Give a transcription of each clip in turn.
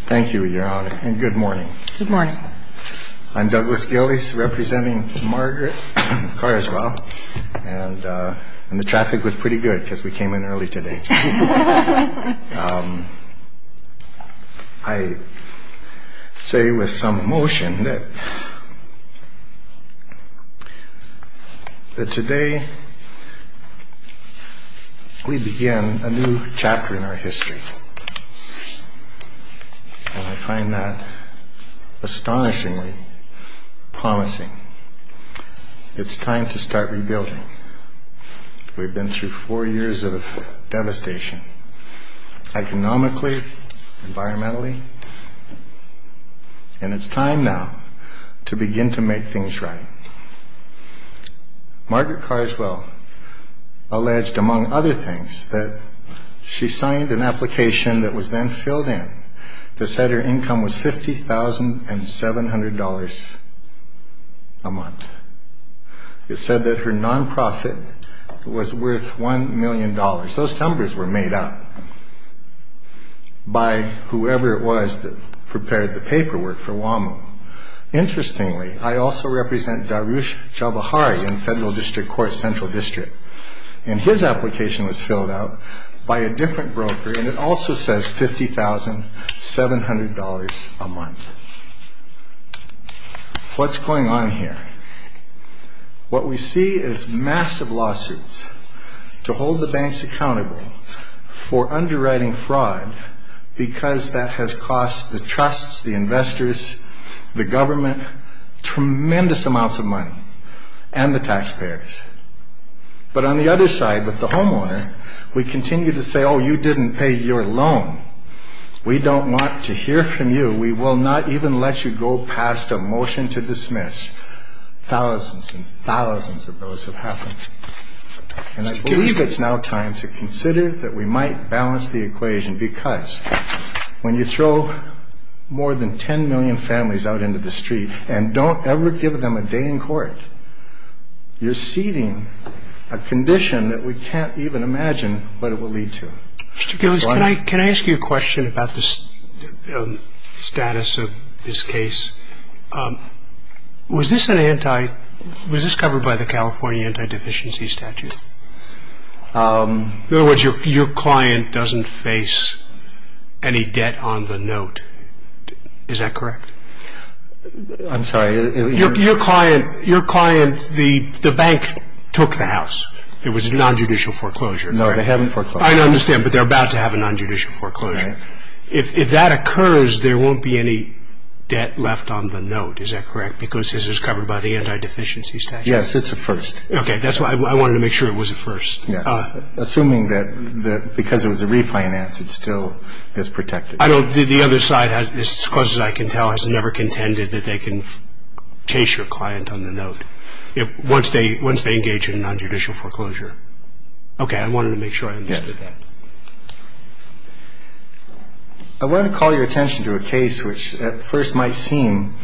Thank you, Your Honor, and good morning. Good morning. I'm Douglas Gillies, representing Margaret Carswell, and the traffic was pretty good because we came in early today. I say with some emotion that today we begin a new chapter in our history, and I find that astonishingly promising. It's time to start rebuilding. We've been through four years of devastation, economically, environmentally, and it's time now to begin to make things right. Margaret Carswell alleged, among other things, that she signed an application that was then filled in that said her income was $50,700 a month. It said that her nonprofit was worth $1 million. Those numbers were made up by whoever it was that prepared the paperwork for WAMU. Interestingly, I also represent Darush Javahari in Federal District Court Central District, and his application was filled out by a different broker, and it also says $50,700 a month. What's going on here? What we see is massive lawsuits to hold the banks accountable for underwriting fraud because that has cost the trusts, the investors, the government, tremendous amounts of money and the taxpayers. But on the other side, with the homeowner, we continue to say, oh, you didn't pay your loan. We don't want to hear from you. We will not even let you go past a motion to dismiss. Thousands and thousands of those have happened, and I believe it's now time to consider that we might balance the equation because when you throw more than 10 million families out into the street and don't ever give them a day in court, you're ceding a condition that we can't even imagine what it will lead to. Mr. Gillis, can I ask you a question about the status of this case? Was this covered by the California Anti-Deficiency Statute? In other words, your client doesn't face any debt on the note. Is that correct? I'm sorry. Your client, the bank took the house. It was a nonjudicial foreclosure. No, they haven't foreclosed. I understand, but they're about to have a nonjudicial foreclosure. If that occurs, there won't be any debt left on the note. Is that correct? Because this is covered by the Anti-Deficiency Statute. Yes, it's a first. Okay, that's why I wanted to make sure it was a first. Assuming that because it was a refinance, it still is protected. The other side, as close as I can tell, has never contended that they can chase your client on the note once they engage in a nonjudicial foreclosure. Okay, I wanted to make sure I understood that. Yes. I want to call your attention to a case which at first might seem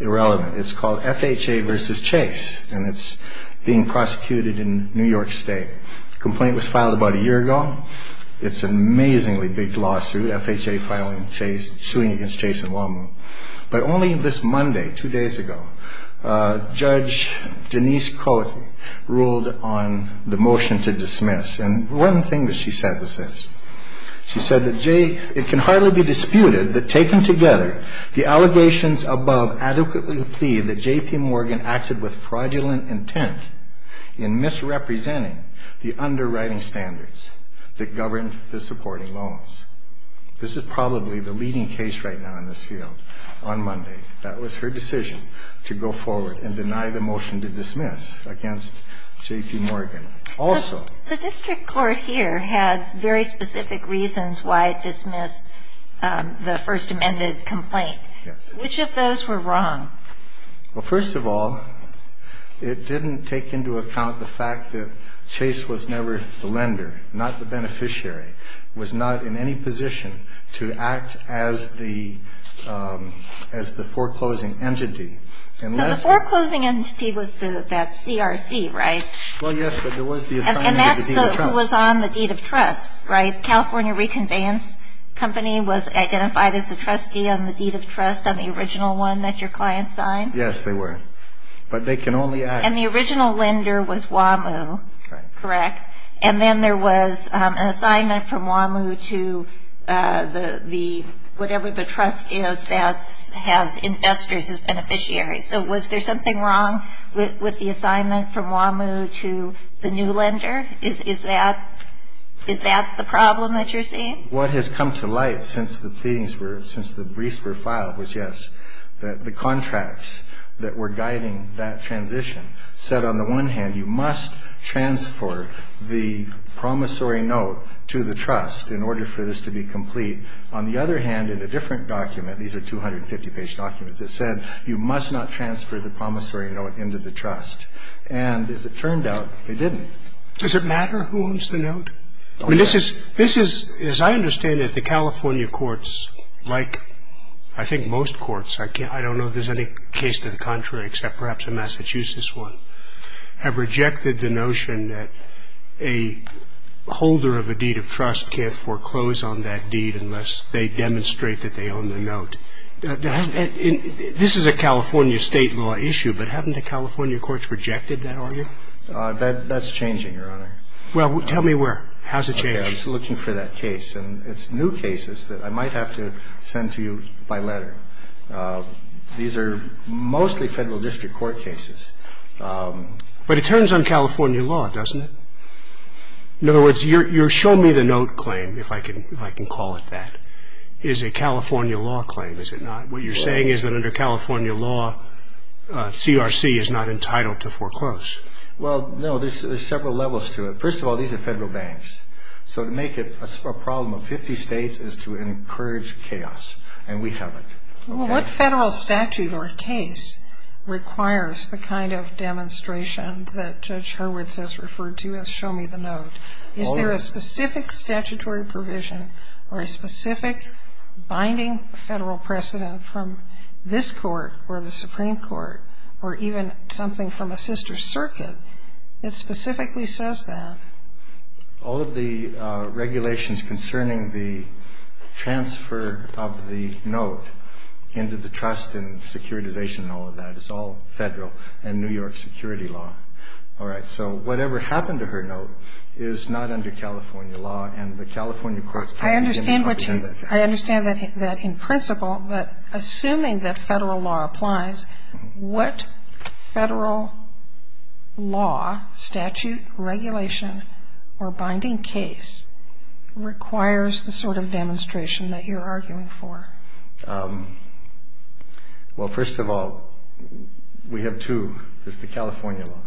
irrelevant. It's called FHA v. Chase, and it's being prosecuted in New York State. The complaint was filed about a year ago. It's an amazingly big lawsuit, FHA suing against Chase and Wallman. But only this Monday, two days ago, Judge Denise Coakley ruled on the motion to dismiss, and one thing that she said was this. She said that it can hardly be disputed that taken together, the allegations above adequately plead that J.P. Morgan acted with fraudulent intent in misrepresenting the underwriting standards that govern the supporting loans. This is probably the leading case right now in this field on Monday. That was her decision to go forward and deny the motion to dismiss against J.P. Morgan. Also the district court here had very specific reasons why it dismissed the First Amendment complaint. Yes. Which of those were wrong? Well, first of all, it didn't take into account the fact that Chase was never the lender, not the beneficiary, was not in any position to act as the foreclosing entity. So the foreclosing entity was that CRC, right? Well, yes, but there was the assignment of the deed of trust. And that's who was on the deed of trust, right? The California Reconveyance Company was identified as a trustee on the deed of trust on the original one that your client signed? Yes, they were. But they can only act. And the original lender was WAMU. Correct. And then there was an assignment from WAMU to whatever the trust is that has investors as beneficiaries. So was there something wrong with the assignment from WAMU to the new lender? Is that the problem that you're seeing? What has come to light since the briefs were filed was, yes, that the contracts that were guiding that transition said, on the one hand, you must transfer the promissory note to the trust in order for this to be complete. On the other hand, in a different document, these are 250-page documents, it said you must not transfer the promissory note into the trust. And as it turned out, they didn't. Does it matter who owns the note? I mean, this is, as I understand it, the California courts, like I think most courts, I don't know if there's any case to the contrary except perhaps a Massachusetts one, have rejected the notion that a holder of a deed of trust can't foreclose on that deed unless they demonstrate that they own the note. This is a California state law issue, but haven't the California courts rejected that argument? That's changing, Your Honor. Well, tell me where. How's it changing? I was looking for that case, and it's new cases that I might have to send to you by letter. These are mostly federal district court cases. But it turns on California law, doesn't it? In other words, your show-me-the-note claim, if I can call it that, is a California law claim, is it not? What you're saying is that under California law, CRC is not entitled to foreclose. Well, no, there's several levels to it. First of all, these are federal banks. So to make it a problem of 50 states is to encourage chaos, and we haven't. Well, what federal statute or case requires the kind of demonstration that Judge Hurwitz has referred to as show-me-the-note? Is there a specific statutory provision or a specific binding federal precedent from this court or the Supreme Court or even something from a sister circuit that specifically says that? All of the regulations concerning the transfer of the note into the trust and securitization and all of that is all federal and New York security law. All right. So whatever happened to her note is not under California law, and the California courts can't even comprehend that. I understand that in principle, but assuming that federal law applies, what federal law, statute, regulation or binding case requires the sort of demonstration that you're arguing for? Well, first of all, we have two. There's the California law,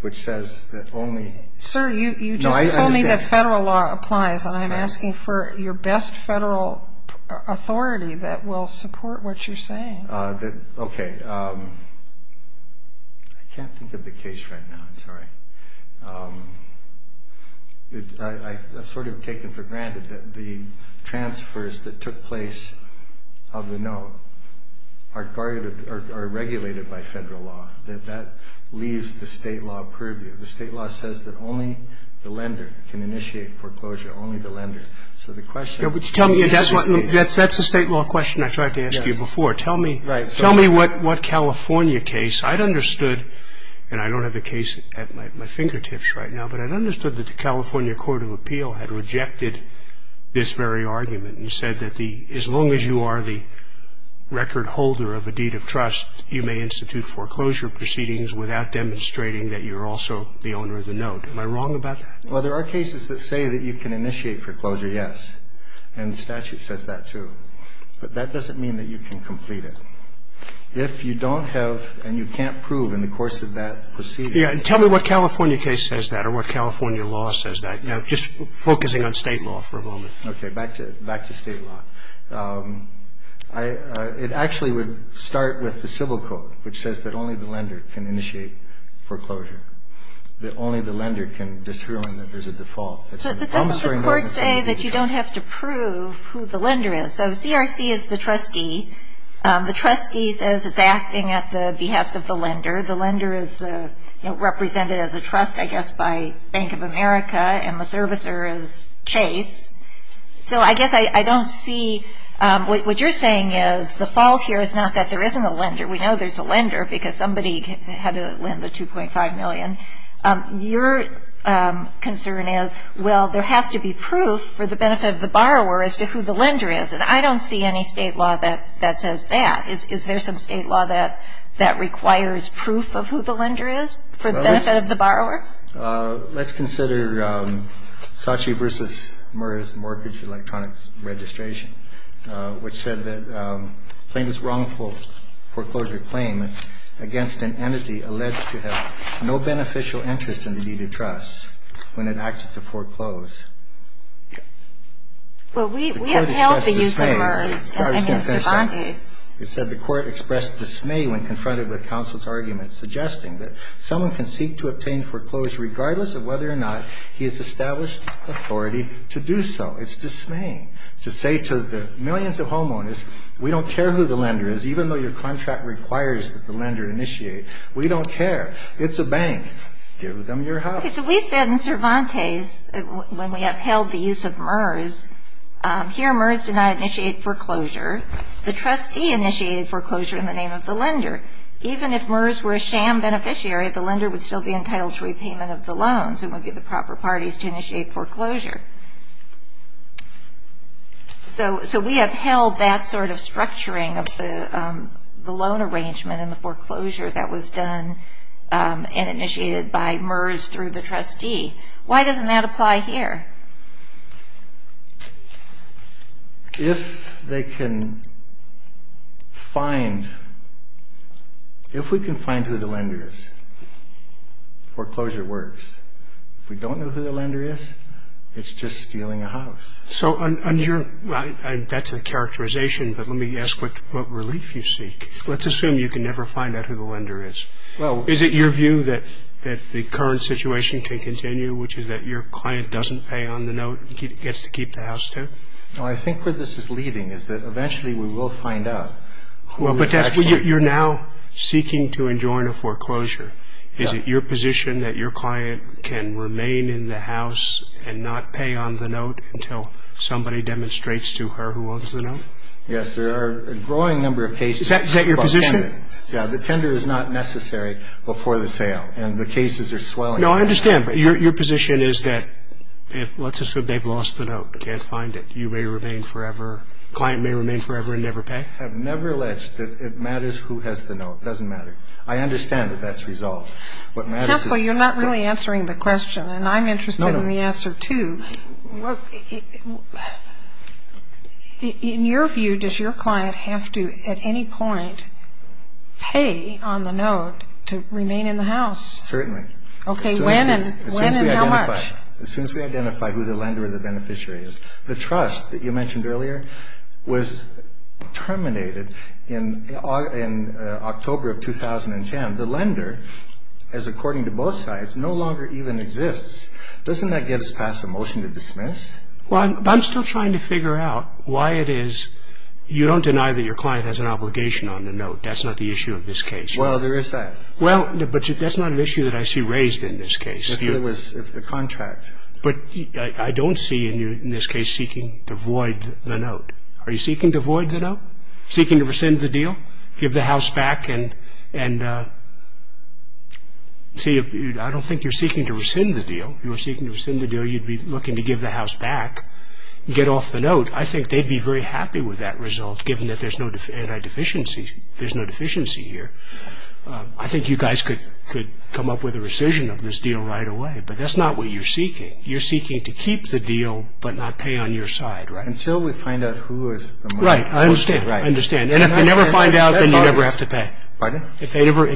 which says that only no, I understand. I think that federal law applies, and I'm asking for your best federal authority that will support what you're saying. Okay. I can't think of the case right now. I'm sorry. I've sort of taken for granted that the transfers that took place of the note are regulated by federal law, that that leaves the state law purview. The state law says that only the lender can initiate foreclosure. Only the lender. So the question. That's the state law question I tried to ask you before. Tell me what California case. I'd understood, and I don't have the case at my fingertips right now, but I'd understood that the California Court of Appeal had rejected this very argument and said that as long as you are the record holder of a deed of trust, you may institute foreclosure proceedings without demonstrating that you're also the owner of the note. Am I wrong about that? Well, there are cases that say that you can initiate foreclosure, yes. And the statute says that, too. But that doesn't mean that you can complete it. If you don't have, and you can't prove in the course of that proceeding. Yeah. And tell me what California case says that or what California law says that. Now, just focusing on state law for a moment. Okay. Back to state law. It actually would start with the civil court, which says that only the lender can initiate foreclosure. That only the lender can determine that there's a default. But doesn't the court say that you don't have to prove who the lender is? So CRC is the trustee. The trustee says it's acting at the behest of the lender. The lender is represented as a trust, I guess, by Bank of America, and the servicer is Chase. So I guess I don't see what you're saying is the fault here is not that there isn't a lender. We know there's a lender because somebody had to lend the $2.5 million. Your concern is, well, there has to be proof for the benefit of the borrower as to who the lender is. And I don't see any state law that says that. Is there some state law that requires proof of who the lender is for the benefit of the borrower? Let's consider Saatchi v. Murr's Mortgage Electronics Registration, which said that plaintiff's wrongful foreclosure claim against an entity alleged to have no beneficial interest in the deed of trust when it acted to foreclose. Well, we upheld the use of Murr's and Mr. Bondi's. It said the court expressed dismay when confronted with counsel's argument, suggesting that someone can seek to obtain foreclosure regardless of whether or not he has established authority to do so. It's dismaying to say to the millions of homeowners, we don't care who the lender is, even though your contract requires that the lender initiate. We don't care. It's a bank. Give them your house. Okay. So we said in Cervantes, when we upheld the use of Murr's, here Murr's did not initiate foreclosure. The trustee initiated foreclosure in the name of the lender. Even if Murr's were a sham beneficiary, the lender would still be entitled to repayment of the loans and would be the proper parties to initiate foreclosure. So we upheld that sort of structuring of the loan arrangement and the foreclosure that was done and initiated by Murr's through the trustee. Why doesn't that apply here? If they can find ñ if we can find who the lender is, foreclosure works. If we don't know who the lender is, it's just stealing a house. So on your ñ that's a characterization, but let me ask what relief you seek. Let's assume you can never find out who the lender is. Is it your view that the current situation can continue, which is that your client doesn't pay on the note and gets to keep the house, too? No, I think where this is leading is that eventually we will find out who is actually ñ Well, but that's ñ you're now seeking to enjoin a foreclosure. Is it your position that your client can remain in the house and not pay on the note until somebody demonstrates to her who owns the note? Yes, there are a growing number of cases ñ Is that your position? Yeah, the tender is not necessary before the sale, and the cases are swelling. No, I understand, but your position is that let's assume they've lost the note, can't find it. You may remain forever ñ client may remain forever and never pay? I've never alleged that it matters who has the note. It doesn't matter. I understand that that's resolved. Counsel, you're not really answering the question, and I'm interested in the answer, too. In your view, does your client have to at any point pay on the note to remain in the house? Certainly. Okay, when and how much? As soon as we identify who the lender or the beneficiary is. The trust that you mentioned earlier was terminated in October of 2010. The lender, as according to both sides, no longer even exists. Doesn't that get us past a motion to dismiss? Well, I'm still trying to figure out why it is you don't deny that your client has an obligation on the note. That's not the issue of this case. Well, there is that. Well, but that's not an issue that I see raised in this case. If it was the contract. But I don't see you in this case seeking to void the note. Are you seeking to void the note? Seeking to rescind the deal? Give the house back and ñ see, I don't think you're seeking to rescind the deal. If you were seeking to rescind the deal, you'd be looking to give the house back, get off the note. I think they'd be very happy with that result, given that there's no anti-deficiency ñ there's no deficiency here. I think you guys could come up with a rescission of this deal right away. But that's not what you're seeking. You're seeking to keep the deal but not pay on your side. Until we find out who is the money. Right. I understand. Right. I understand. And if they never find out, then you never have to pay. Pardon? If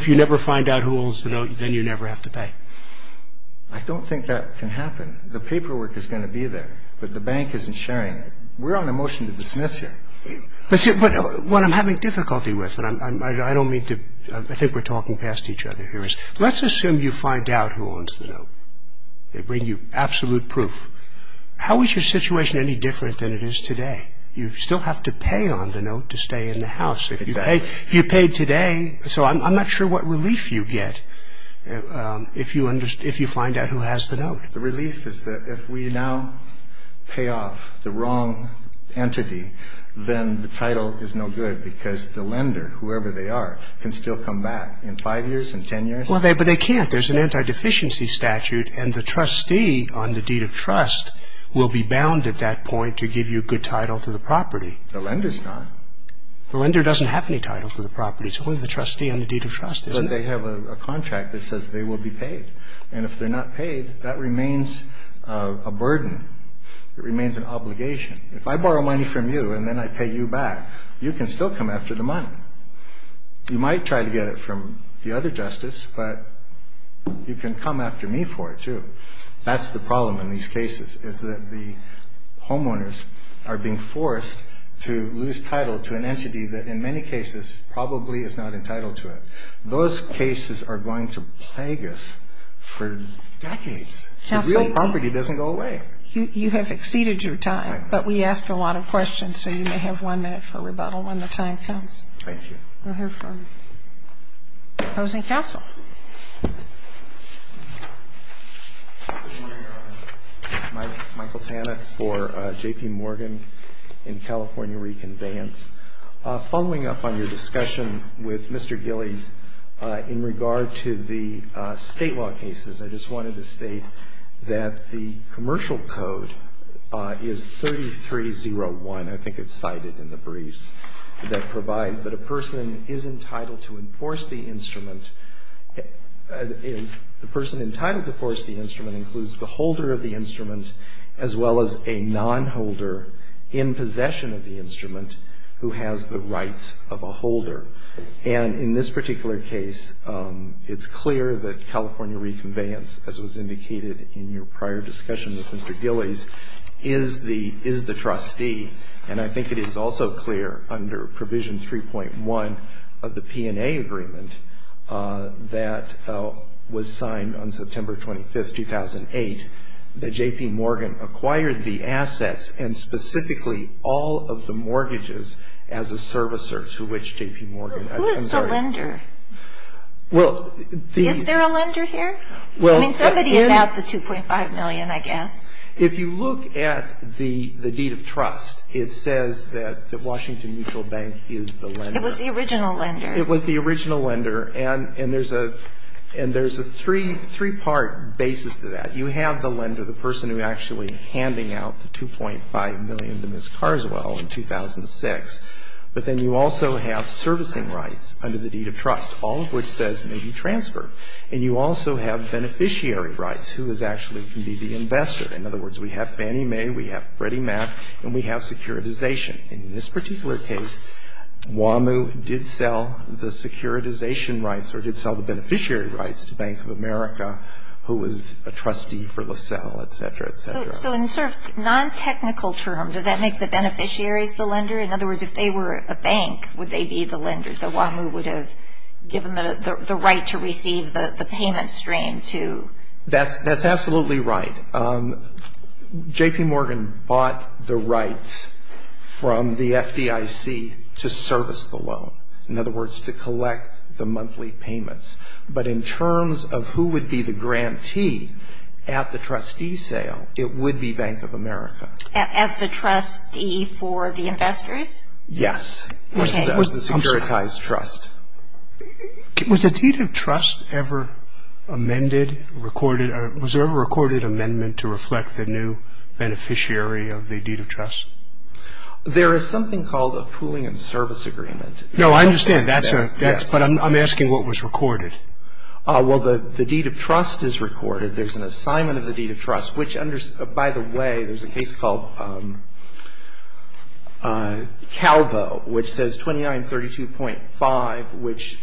you never find out who owns the note, then you never have to pay. I don't think that can happen. The paperwork is going to be there, but the bank isn't sharing it. We're on a motion to dismiss here. What I'm having difficulty with, and I don't mean to ñ I think we're talking past each other here, is let's assume you find out who owns the note. They bring you absolute proof. How is your situation any different than it is today? You still have to pay on the note to stay in the house. If you paid today ñ so I'm not sure what relief you get if you find out who has the note. The relief is that if we now pay off the wrong entity, then the title is no good because the lender, whoever they are, can still come back in five years, in ten years. Well, but they can't. There's an anti-deficiency statute, and the trustee on the deed of trust will be bound at that point to give you a good title to the property. The lender's not. The lender doesn't have any title to the property. It's only the trustee on the deed of trust, isn't it? But they have a contract that says they will be paid. And if they're not paid, that remains a burden. It remains an obligation. If I borrow money from you and then I pay you back, you can still come after the money. You might try to get it from the other justice, but you can come after me for it too. That's the problem in these cases, is that the homeowners are being forced to lose title to an entity that in many cases probably is not entitled to it. Those cases are going to plague us for decades. The real property doesn't go away. Counsel, you have exceeded your time, but we asked a lot of questions, so you may have one minute for rebuttal when the time comes. Thank you. We'll hear from you. Opposing counsel? Michael Tanit for J.P. Morgan in California Reconveyance. Following up on your discussion with Mr. Gillies in regard to the state law cases, I just wanted to state that the commercial code is 3301. I think it's cited in the briefs. That provides that a person is entitled to enforce the instrument. The person entitled to enforce the instrument includes the holder of the instrument as well as a nonholder in possession of the instrument who has the rights of a holder. And in this particular case, it's clear that California Reconveyance, as was indicated in your prior discussion with Mr. Gillies, is the trustee, and I think it is also clear under Provision 3.1 of the P&A agreement that was signed on September 25, 2008, that J.P. Morgan acquired the assets and specifically all of the mortgages as a servicer to which J.P. Morgan. Who is the lender? Is there a lender here? I mean, somebody is out the $2.5 million, I guess. If you look at the deed of trust, it says that the Washington Mutual Bank is the lender. It was the original lender. It was the original lender, and there's a three-part basis to that. You have the lender, the person who is actually handing out the $2.5 million to Ms. Carswell in 2006, but then you also have servicing rights under the deed of trust, all of which says may be transferred. And you also have beneficiary rights, who is actually going to be the investor. In other words, we have Fannie Mae, we have Freddie Mac, and we have securitization. In this particular case, WAMU did sell the securitization rights or did sell the beneficiary rights to Bank of America, who was a trustee for LaSalle, et cetera, et cetera. So in sort of non-technical terms, does that make the beneficiaries the lender? In other words, if they were a bank, would they be the lender? So WAMU would have given them the right to receive the payment stream to? That's absolutely right. J.P. Morgan bought the rights from the FDIC to service the loan. In other words, to collect the monthly payments. But in terms of who would be the grantee at the trustee sale, it would be Bank of America. As the trustee for the investors? Yes. The securitized trust. Was the deed of trust ever amended, recorded, or was there a recorded amendment to reflect the new beneficiary of the deed of trust? There is something called a pooling and service agreement. No, I understand that, sir. But I'm asking what was recorded. Well, the deed of trust is recorded. There's an assignment of the deed of trust, which, by the way, there's a case called Calvo, which says 2932.5, which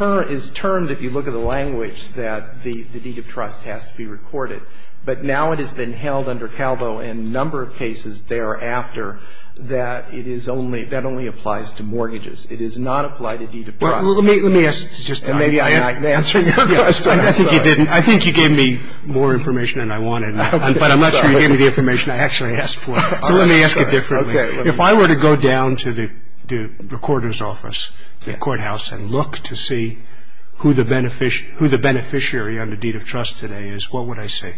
is termed, if you look at the language, that the deed of trust has to be recorded. But now it has been held under Calvo in a number of cases thereafter that it is only applied to mortgages. It is not applied to deed of trust. Well, let me ask. And maybe I'm not answering your question. I think you didn't. I think you gave me more information than I wanted. But I'm not sure you gave me the information I actually asked for. So let me ask it differently. Okay. If I were to go down to the recorder's office, the courthouse, and look to see who the beneficiary under deed of trust today is, what would I see?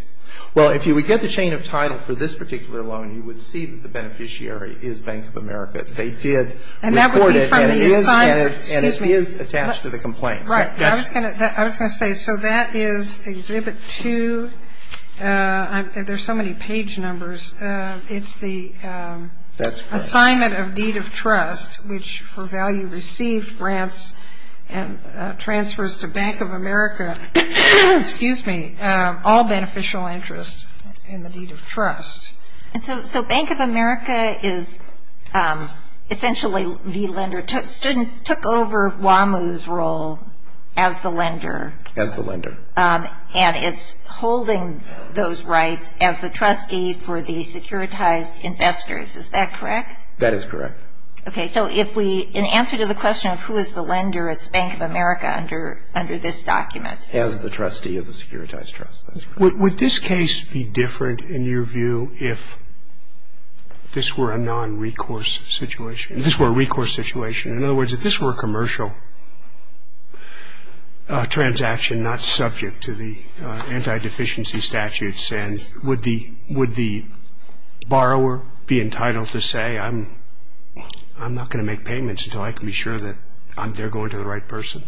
Well, if you would get the chain of title for this particular loan, you would see that the beneficiary is Bank of America. They did record it and it is attached to the complaint. Right. I was going to say, so that is Exhibit 2. There's so many page numbers. It's the assignment of deed of trust, which for value received grants and transfers to Bank of America, excuse me, all beneficial interest in the deed of trust. And so Bank of America is essentially the lender. Student took over WAMU's role as the lender. As the lender. And it's holding those rights as the trustee for the securitized investors. Is that correct? That is correct. Okay. So if we, in answer to the question of who is the lender, it's Bank of America under this document. As the trustee of the securitized trust. That's correct. Would this case be different in your view if this were a non-recourse situation, if this were a recourse situation? In other words, if this were a commercial transaction not subject to the anti-deficiency statutes, would the borrower be entitled to say, I'm not going to make payments until I can be sure that they're going to the right person?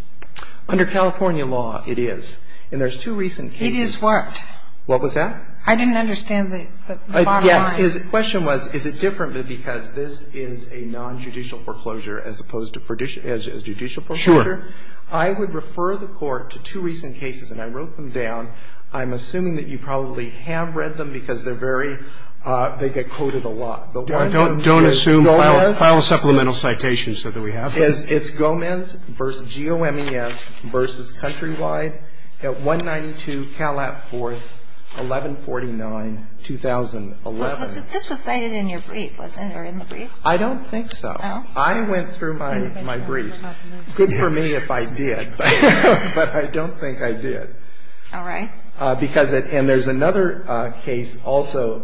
Under California law, it is. And there's two recent cases. It is what? What was that? I didn't understand the bottom line. Yes. The question was, is it different because this is a non-judicial foreclosure as opposed to judicial foreclosure? Sure. I would refer the Court to two recent cases, and I wrote them down. I'm assuming that you probably have read them because they're very, they get quoted a lot. Don't assume. File a supplemental citation so that we have them. It's Gomez v. G-O-M-E-S v. Countrywide at 192 Calat 4th, 1149, 2011. This was cited in your brief, wasn't it, or in the brief? I don't think so. Oh. I went through my brief. Good for me if I did. But I don't think I did. All right. Because it, and there's another case also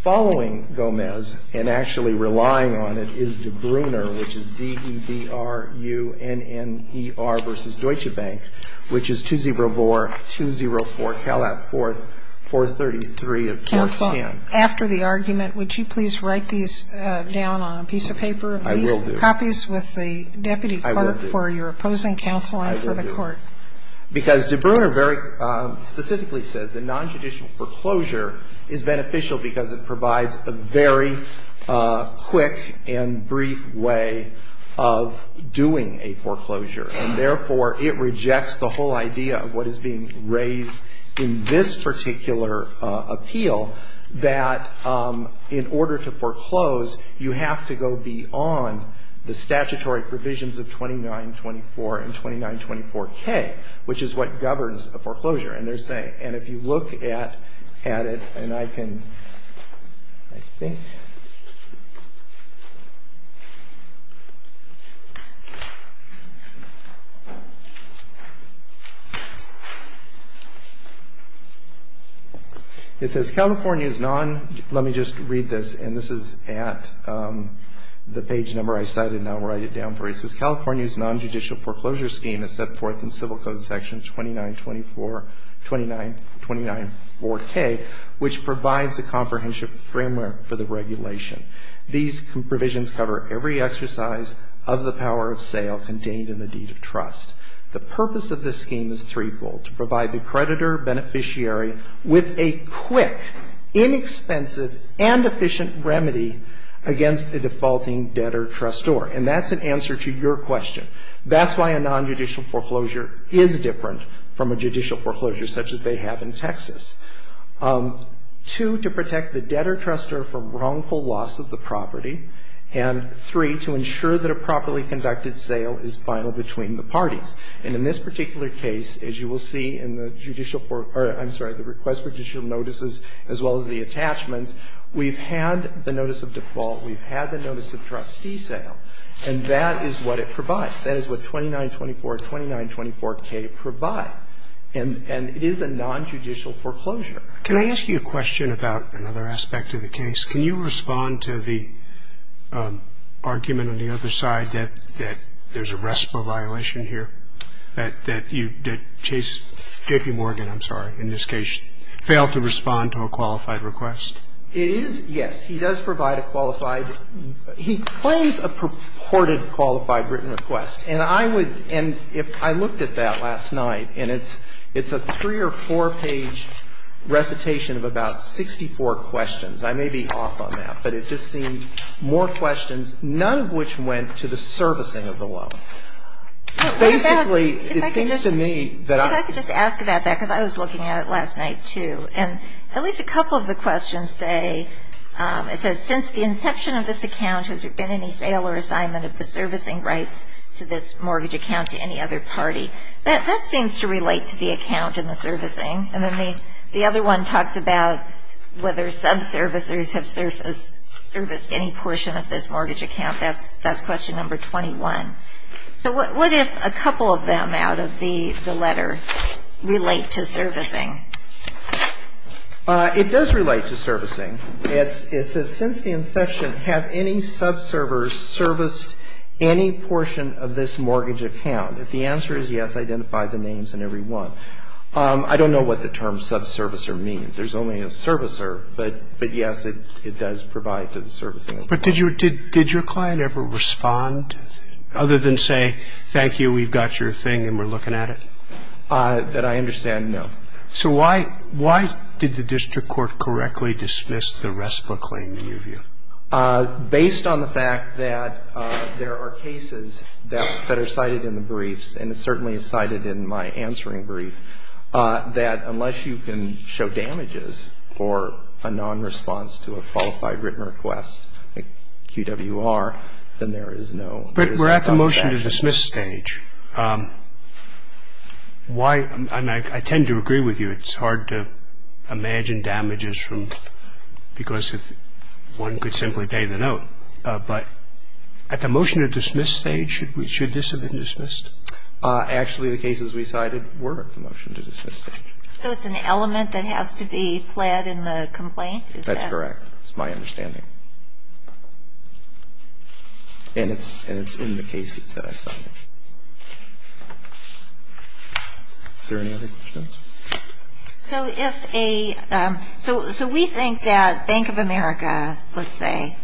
following Gomez and actually relying on it is Debruner, which is D-E-B-R-U-N-N-E-R v. Deutsche Bank, which is 204 Calat 4th, 433 of 410. Counsel, after the argument, would you please write these down on a piece of paper? I will do. And leave copies with the deputy clerk for your opposing counsel and for the Court. I will do. Because Debruner very specifically says that non-judicial foreclosure is beneficial because it provides a very quick and brief way of doing a foreclosure. And therefore, it rejects the whole idea of what is being raised in this particular appeal, that in order to foreclose, you have to go beyond the statutory provisions of 2924 and 2924K, which is what governs a foreclosure. And they're saying, and if you look at it, and I can, I think. It says, California's non, let me just read this. And this is at the page number I cited, and I'll write it down for you. It says, California's non-judicial foreclosure scheme is set forth in Civil Code Section 2924, 29, 294K, which provides the comprehensive framework for the regulation. These provisions cover every exercise of the power of sale contained in the deed of trust. The purpose of this scheme is threefold, to provide the creditor-beneficiary with a quick, inexpensive, and efficient remedy against a defaulting debtor-trustor. And that's an answer to your question. That's why a non-judicial foreclosure is different from a judicial foreclosure such as they have in Texas. Two, to protect the debtor-trustor from wrongful loss of the property. And three, to ensure that a properly conducted sale is final between the parties. And in this particular case, as you will see in the judicial foreclosure, I'm sorry, the request for judicial notices as well as the attachments, we've had the notice of default, we've had the notice of trustee sale, and that is what it provides. That is what 2924, 2924K provide. And it is a non-judicial foreclosure. Roberts. Can I ask you a question about another aspect of the case? Can you respond to the argument on the other side that there's a RESPA violation here, that you, that Chase, J.P. Morgan, I'm sorry, in this case, failed to respond to a qualified written request? It is, yes. He does provide a qualified. He claims a purported qualified written request. And I would, and if I looked at that last night, and it's, it's a three or four-page recitation of about 64 questions. I may be off on that, but it just seemed more questions, none of which went to the servicing of the loan. Basically, it seems to me that I could just ask about that, because I was looking at it last night, too. And at least a couple of the questions say, it says, since the inception of this account, has there been any sale or assignment of the servicing rights to this mortgage account to any other party? That seems to relate to the account and the servicing. And then the other one talks about whether subservicers have serviced any portion of this mortgage account. That's question number 21. So what if a couple of them out of the letter relate to servicing? It does relate to servicing. It says, since the inception, have any subservicers serviced any portion of this mortgage account? If the answer is yes, identify the names in every one. I don't know what the term subservicer means. There's only a subservicer, but yes, it does provide to the servicing of the loan. But did your client ever respond, other than say, thank you, we've got your thing and we're looking at it? That I understand, no. So why did the district court correctly dismiss the RESPA claim in your view? Based on the fact that there are cases that are cited in the briefs, and it certainly is cited in my answering brief, that unless you can show damages for a nonresponse to a Qualified Written Request, a QWR, then there is no compensation. But we're at the motion-to-dismiss stage. Why? I mean, I tend to agree with you. It's hard to imagine damages from because one could simply pay the note. But at the motion-to-dismiss stage, should this have been dismissed? Actually, the cases we cited were at the motion-to-dismiss stage. So it's an element that has to be fled in the complaint? Is that correct? That's correct. That's my understanding. And it's in the cases that I cited. Is there any other questions? So if a so we think that Bank of America, let's say,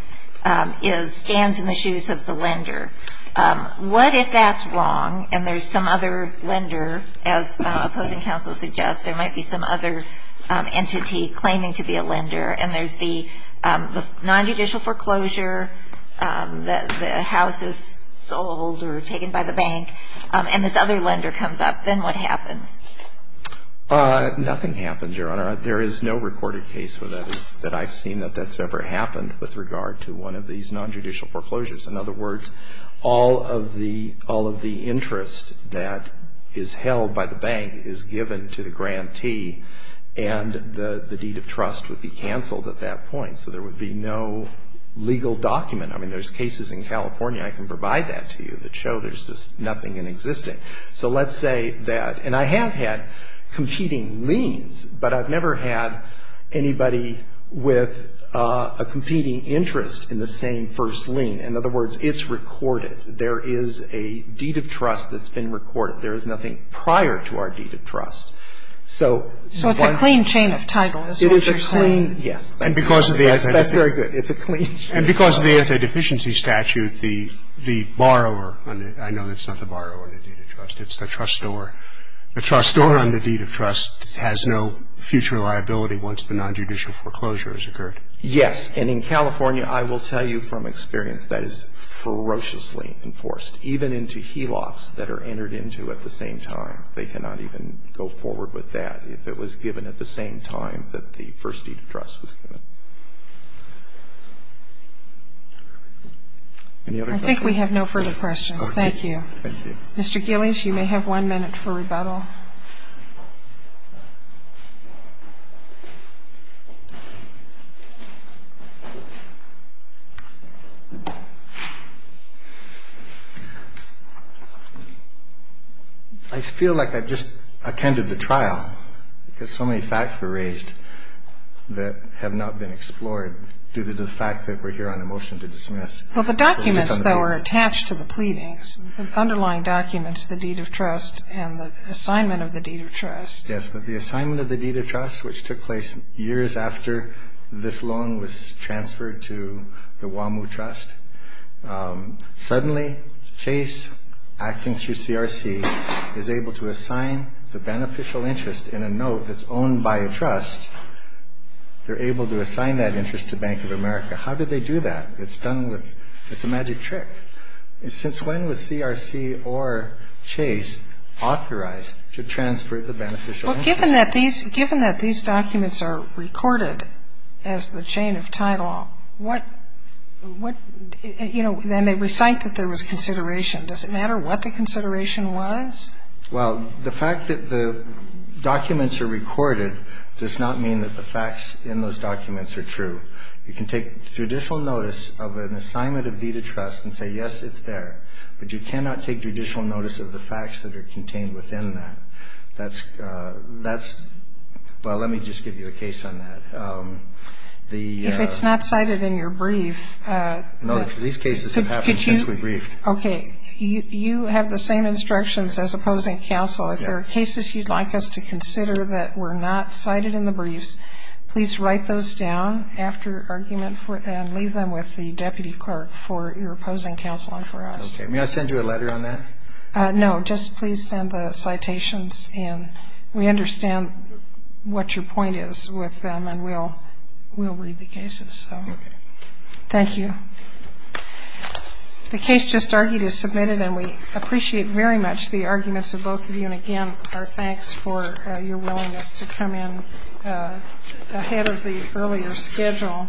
is stands in the shoes of the lender. What if that's wrong and there's some other lender, as opposing counsel suggests, there might be some other entity claiming to be a lender, and there's the nonjudicial foreclosure, the house is sold or taken by the bank, and this other lender comes up, then what happens? Nothing happens, Your Honor. There is no recorded case that I've seen that that's ever happened with regard to one of these nonjudicial foreclosures. In other words, all of the interest that is held by the bank is given to the grantee, and the deed of trust would be canceled at that point. So there would be no legal document. I mean, there's cases in California I can provide that to you that show there's just nothing in existing. So let's say that, and I have had competing liens, but I've never had anybody with a competing interest in the same first lien. In other words, it's recorded. There is a deed of trust that's been recorded. There is nothing prior to our deed of trust. So one of the things you're saying. So it's a clean chain of titles. It is a clean, yes. That's very good. It's a clean chain of titles. And because of the anti-deficiency statute, the borrower, I know that's not the borrower in the deed of trust, it's the trustor. The trustor on the deed of trust has no future liability once the nonjudicial foreclosure has occurred. Yes. And in California, I will tell you from experience, that is ferociously enforced. Even into HELOCs that are entered into at the same time, they cannot even go forward with that if it was given at the same time that the first deed of trust was given. Any other questions? Okay. Thank you. Thank you. Mr. Gillies, you may have one minute for rebuttal. I feel like I've just attended the trial because so many facts were raised that have not been explored due to the fact that we're here on a motion to dismiss. Well, the documents that were attached to the pleadings, the underlying documents, the deed of trust, and the assignment of the deed of trust. Yes, but the assignment of the deed of trust, which took place years after this loan was transferred to the WAMU Trust, suddenly Chase, acting through CRC, is able to assign the beneficial interest in a note that's owned by a trust. They're able to assign that interest to Bank of America. How did they do that? It's done with, it's a magic trick. Since when was CRC or Chase authorized to transfer the beneficial interest? Well, given that these documents are recorded as the chain of title, what, you know, then they recite that there was consideration. Does it matter what the consideration was? Well, the fact that the documents are recorded does not mean that the facts in those documents are true. You can take judicial notice of an assignment of deed of trust and say, yes, it's there, but you cannot take judicial notice of the facts that are contained within that. That's, well, let me just give you a case on that. If it's not cited in your brief. No, because these cases have happened since we briefed. Okay. You have the same instructions as opposing counsel. If there are cases you'd like us to consider that were not cited in the briefs, please write those down after argument and leave them with the deputy clerk for your opposing counsel and for us. Okay. May I send you a letter on that? No, just please send the citations in. We understand what your point is with them, and we'll read the cases. Okay. Thank you. The case just argued is submitted, and we appreciate very much the arguments of both of you. And, again, our thanks for your willingness to come in ahead of the earlier schedule.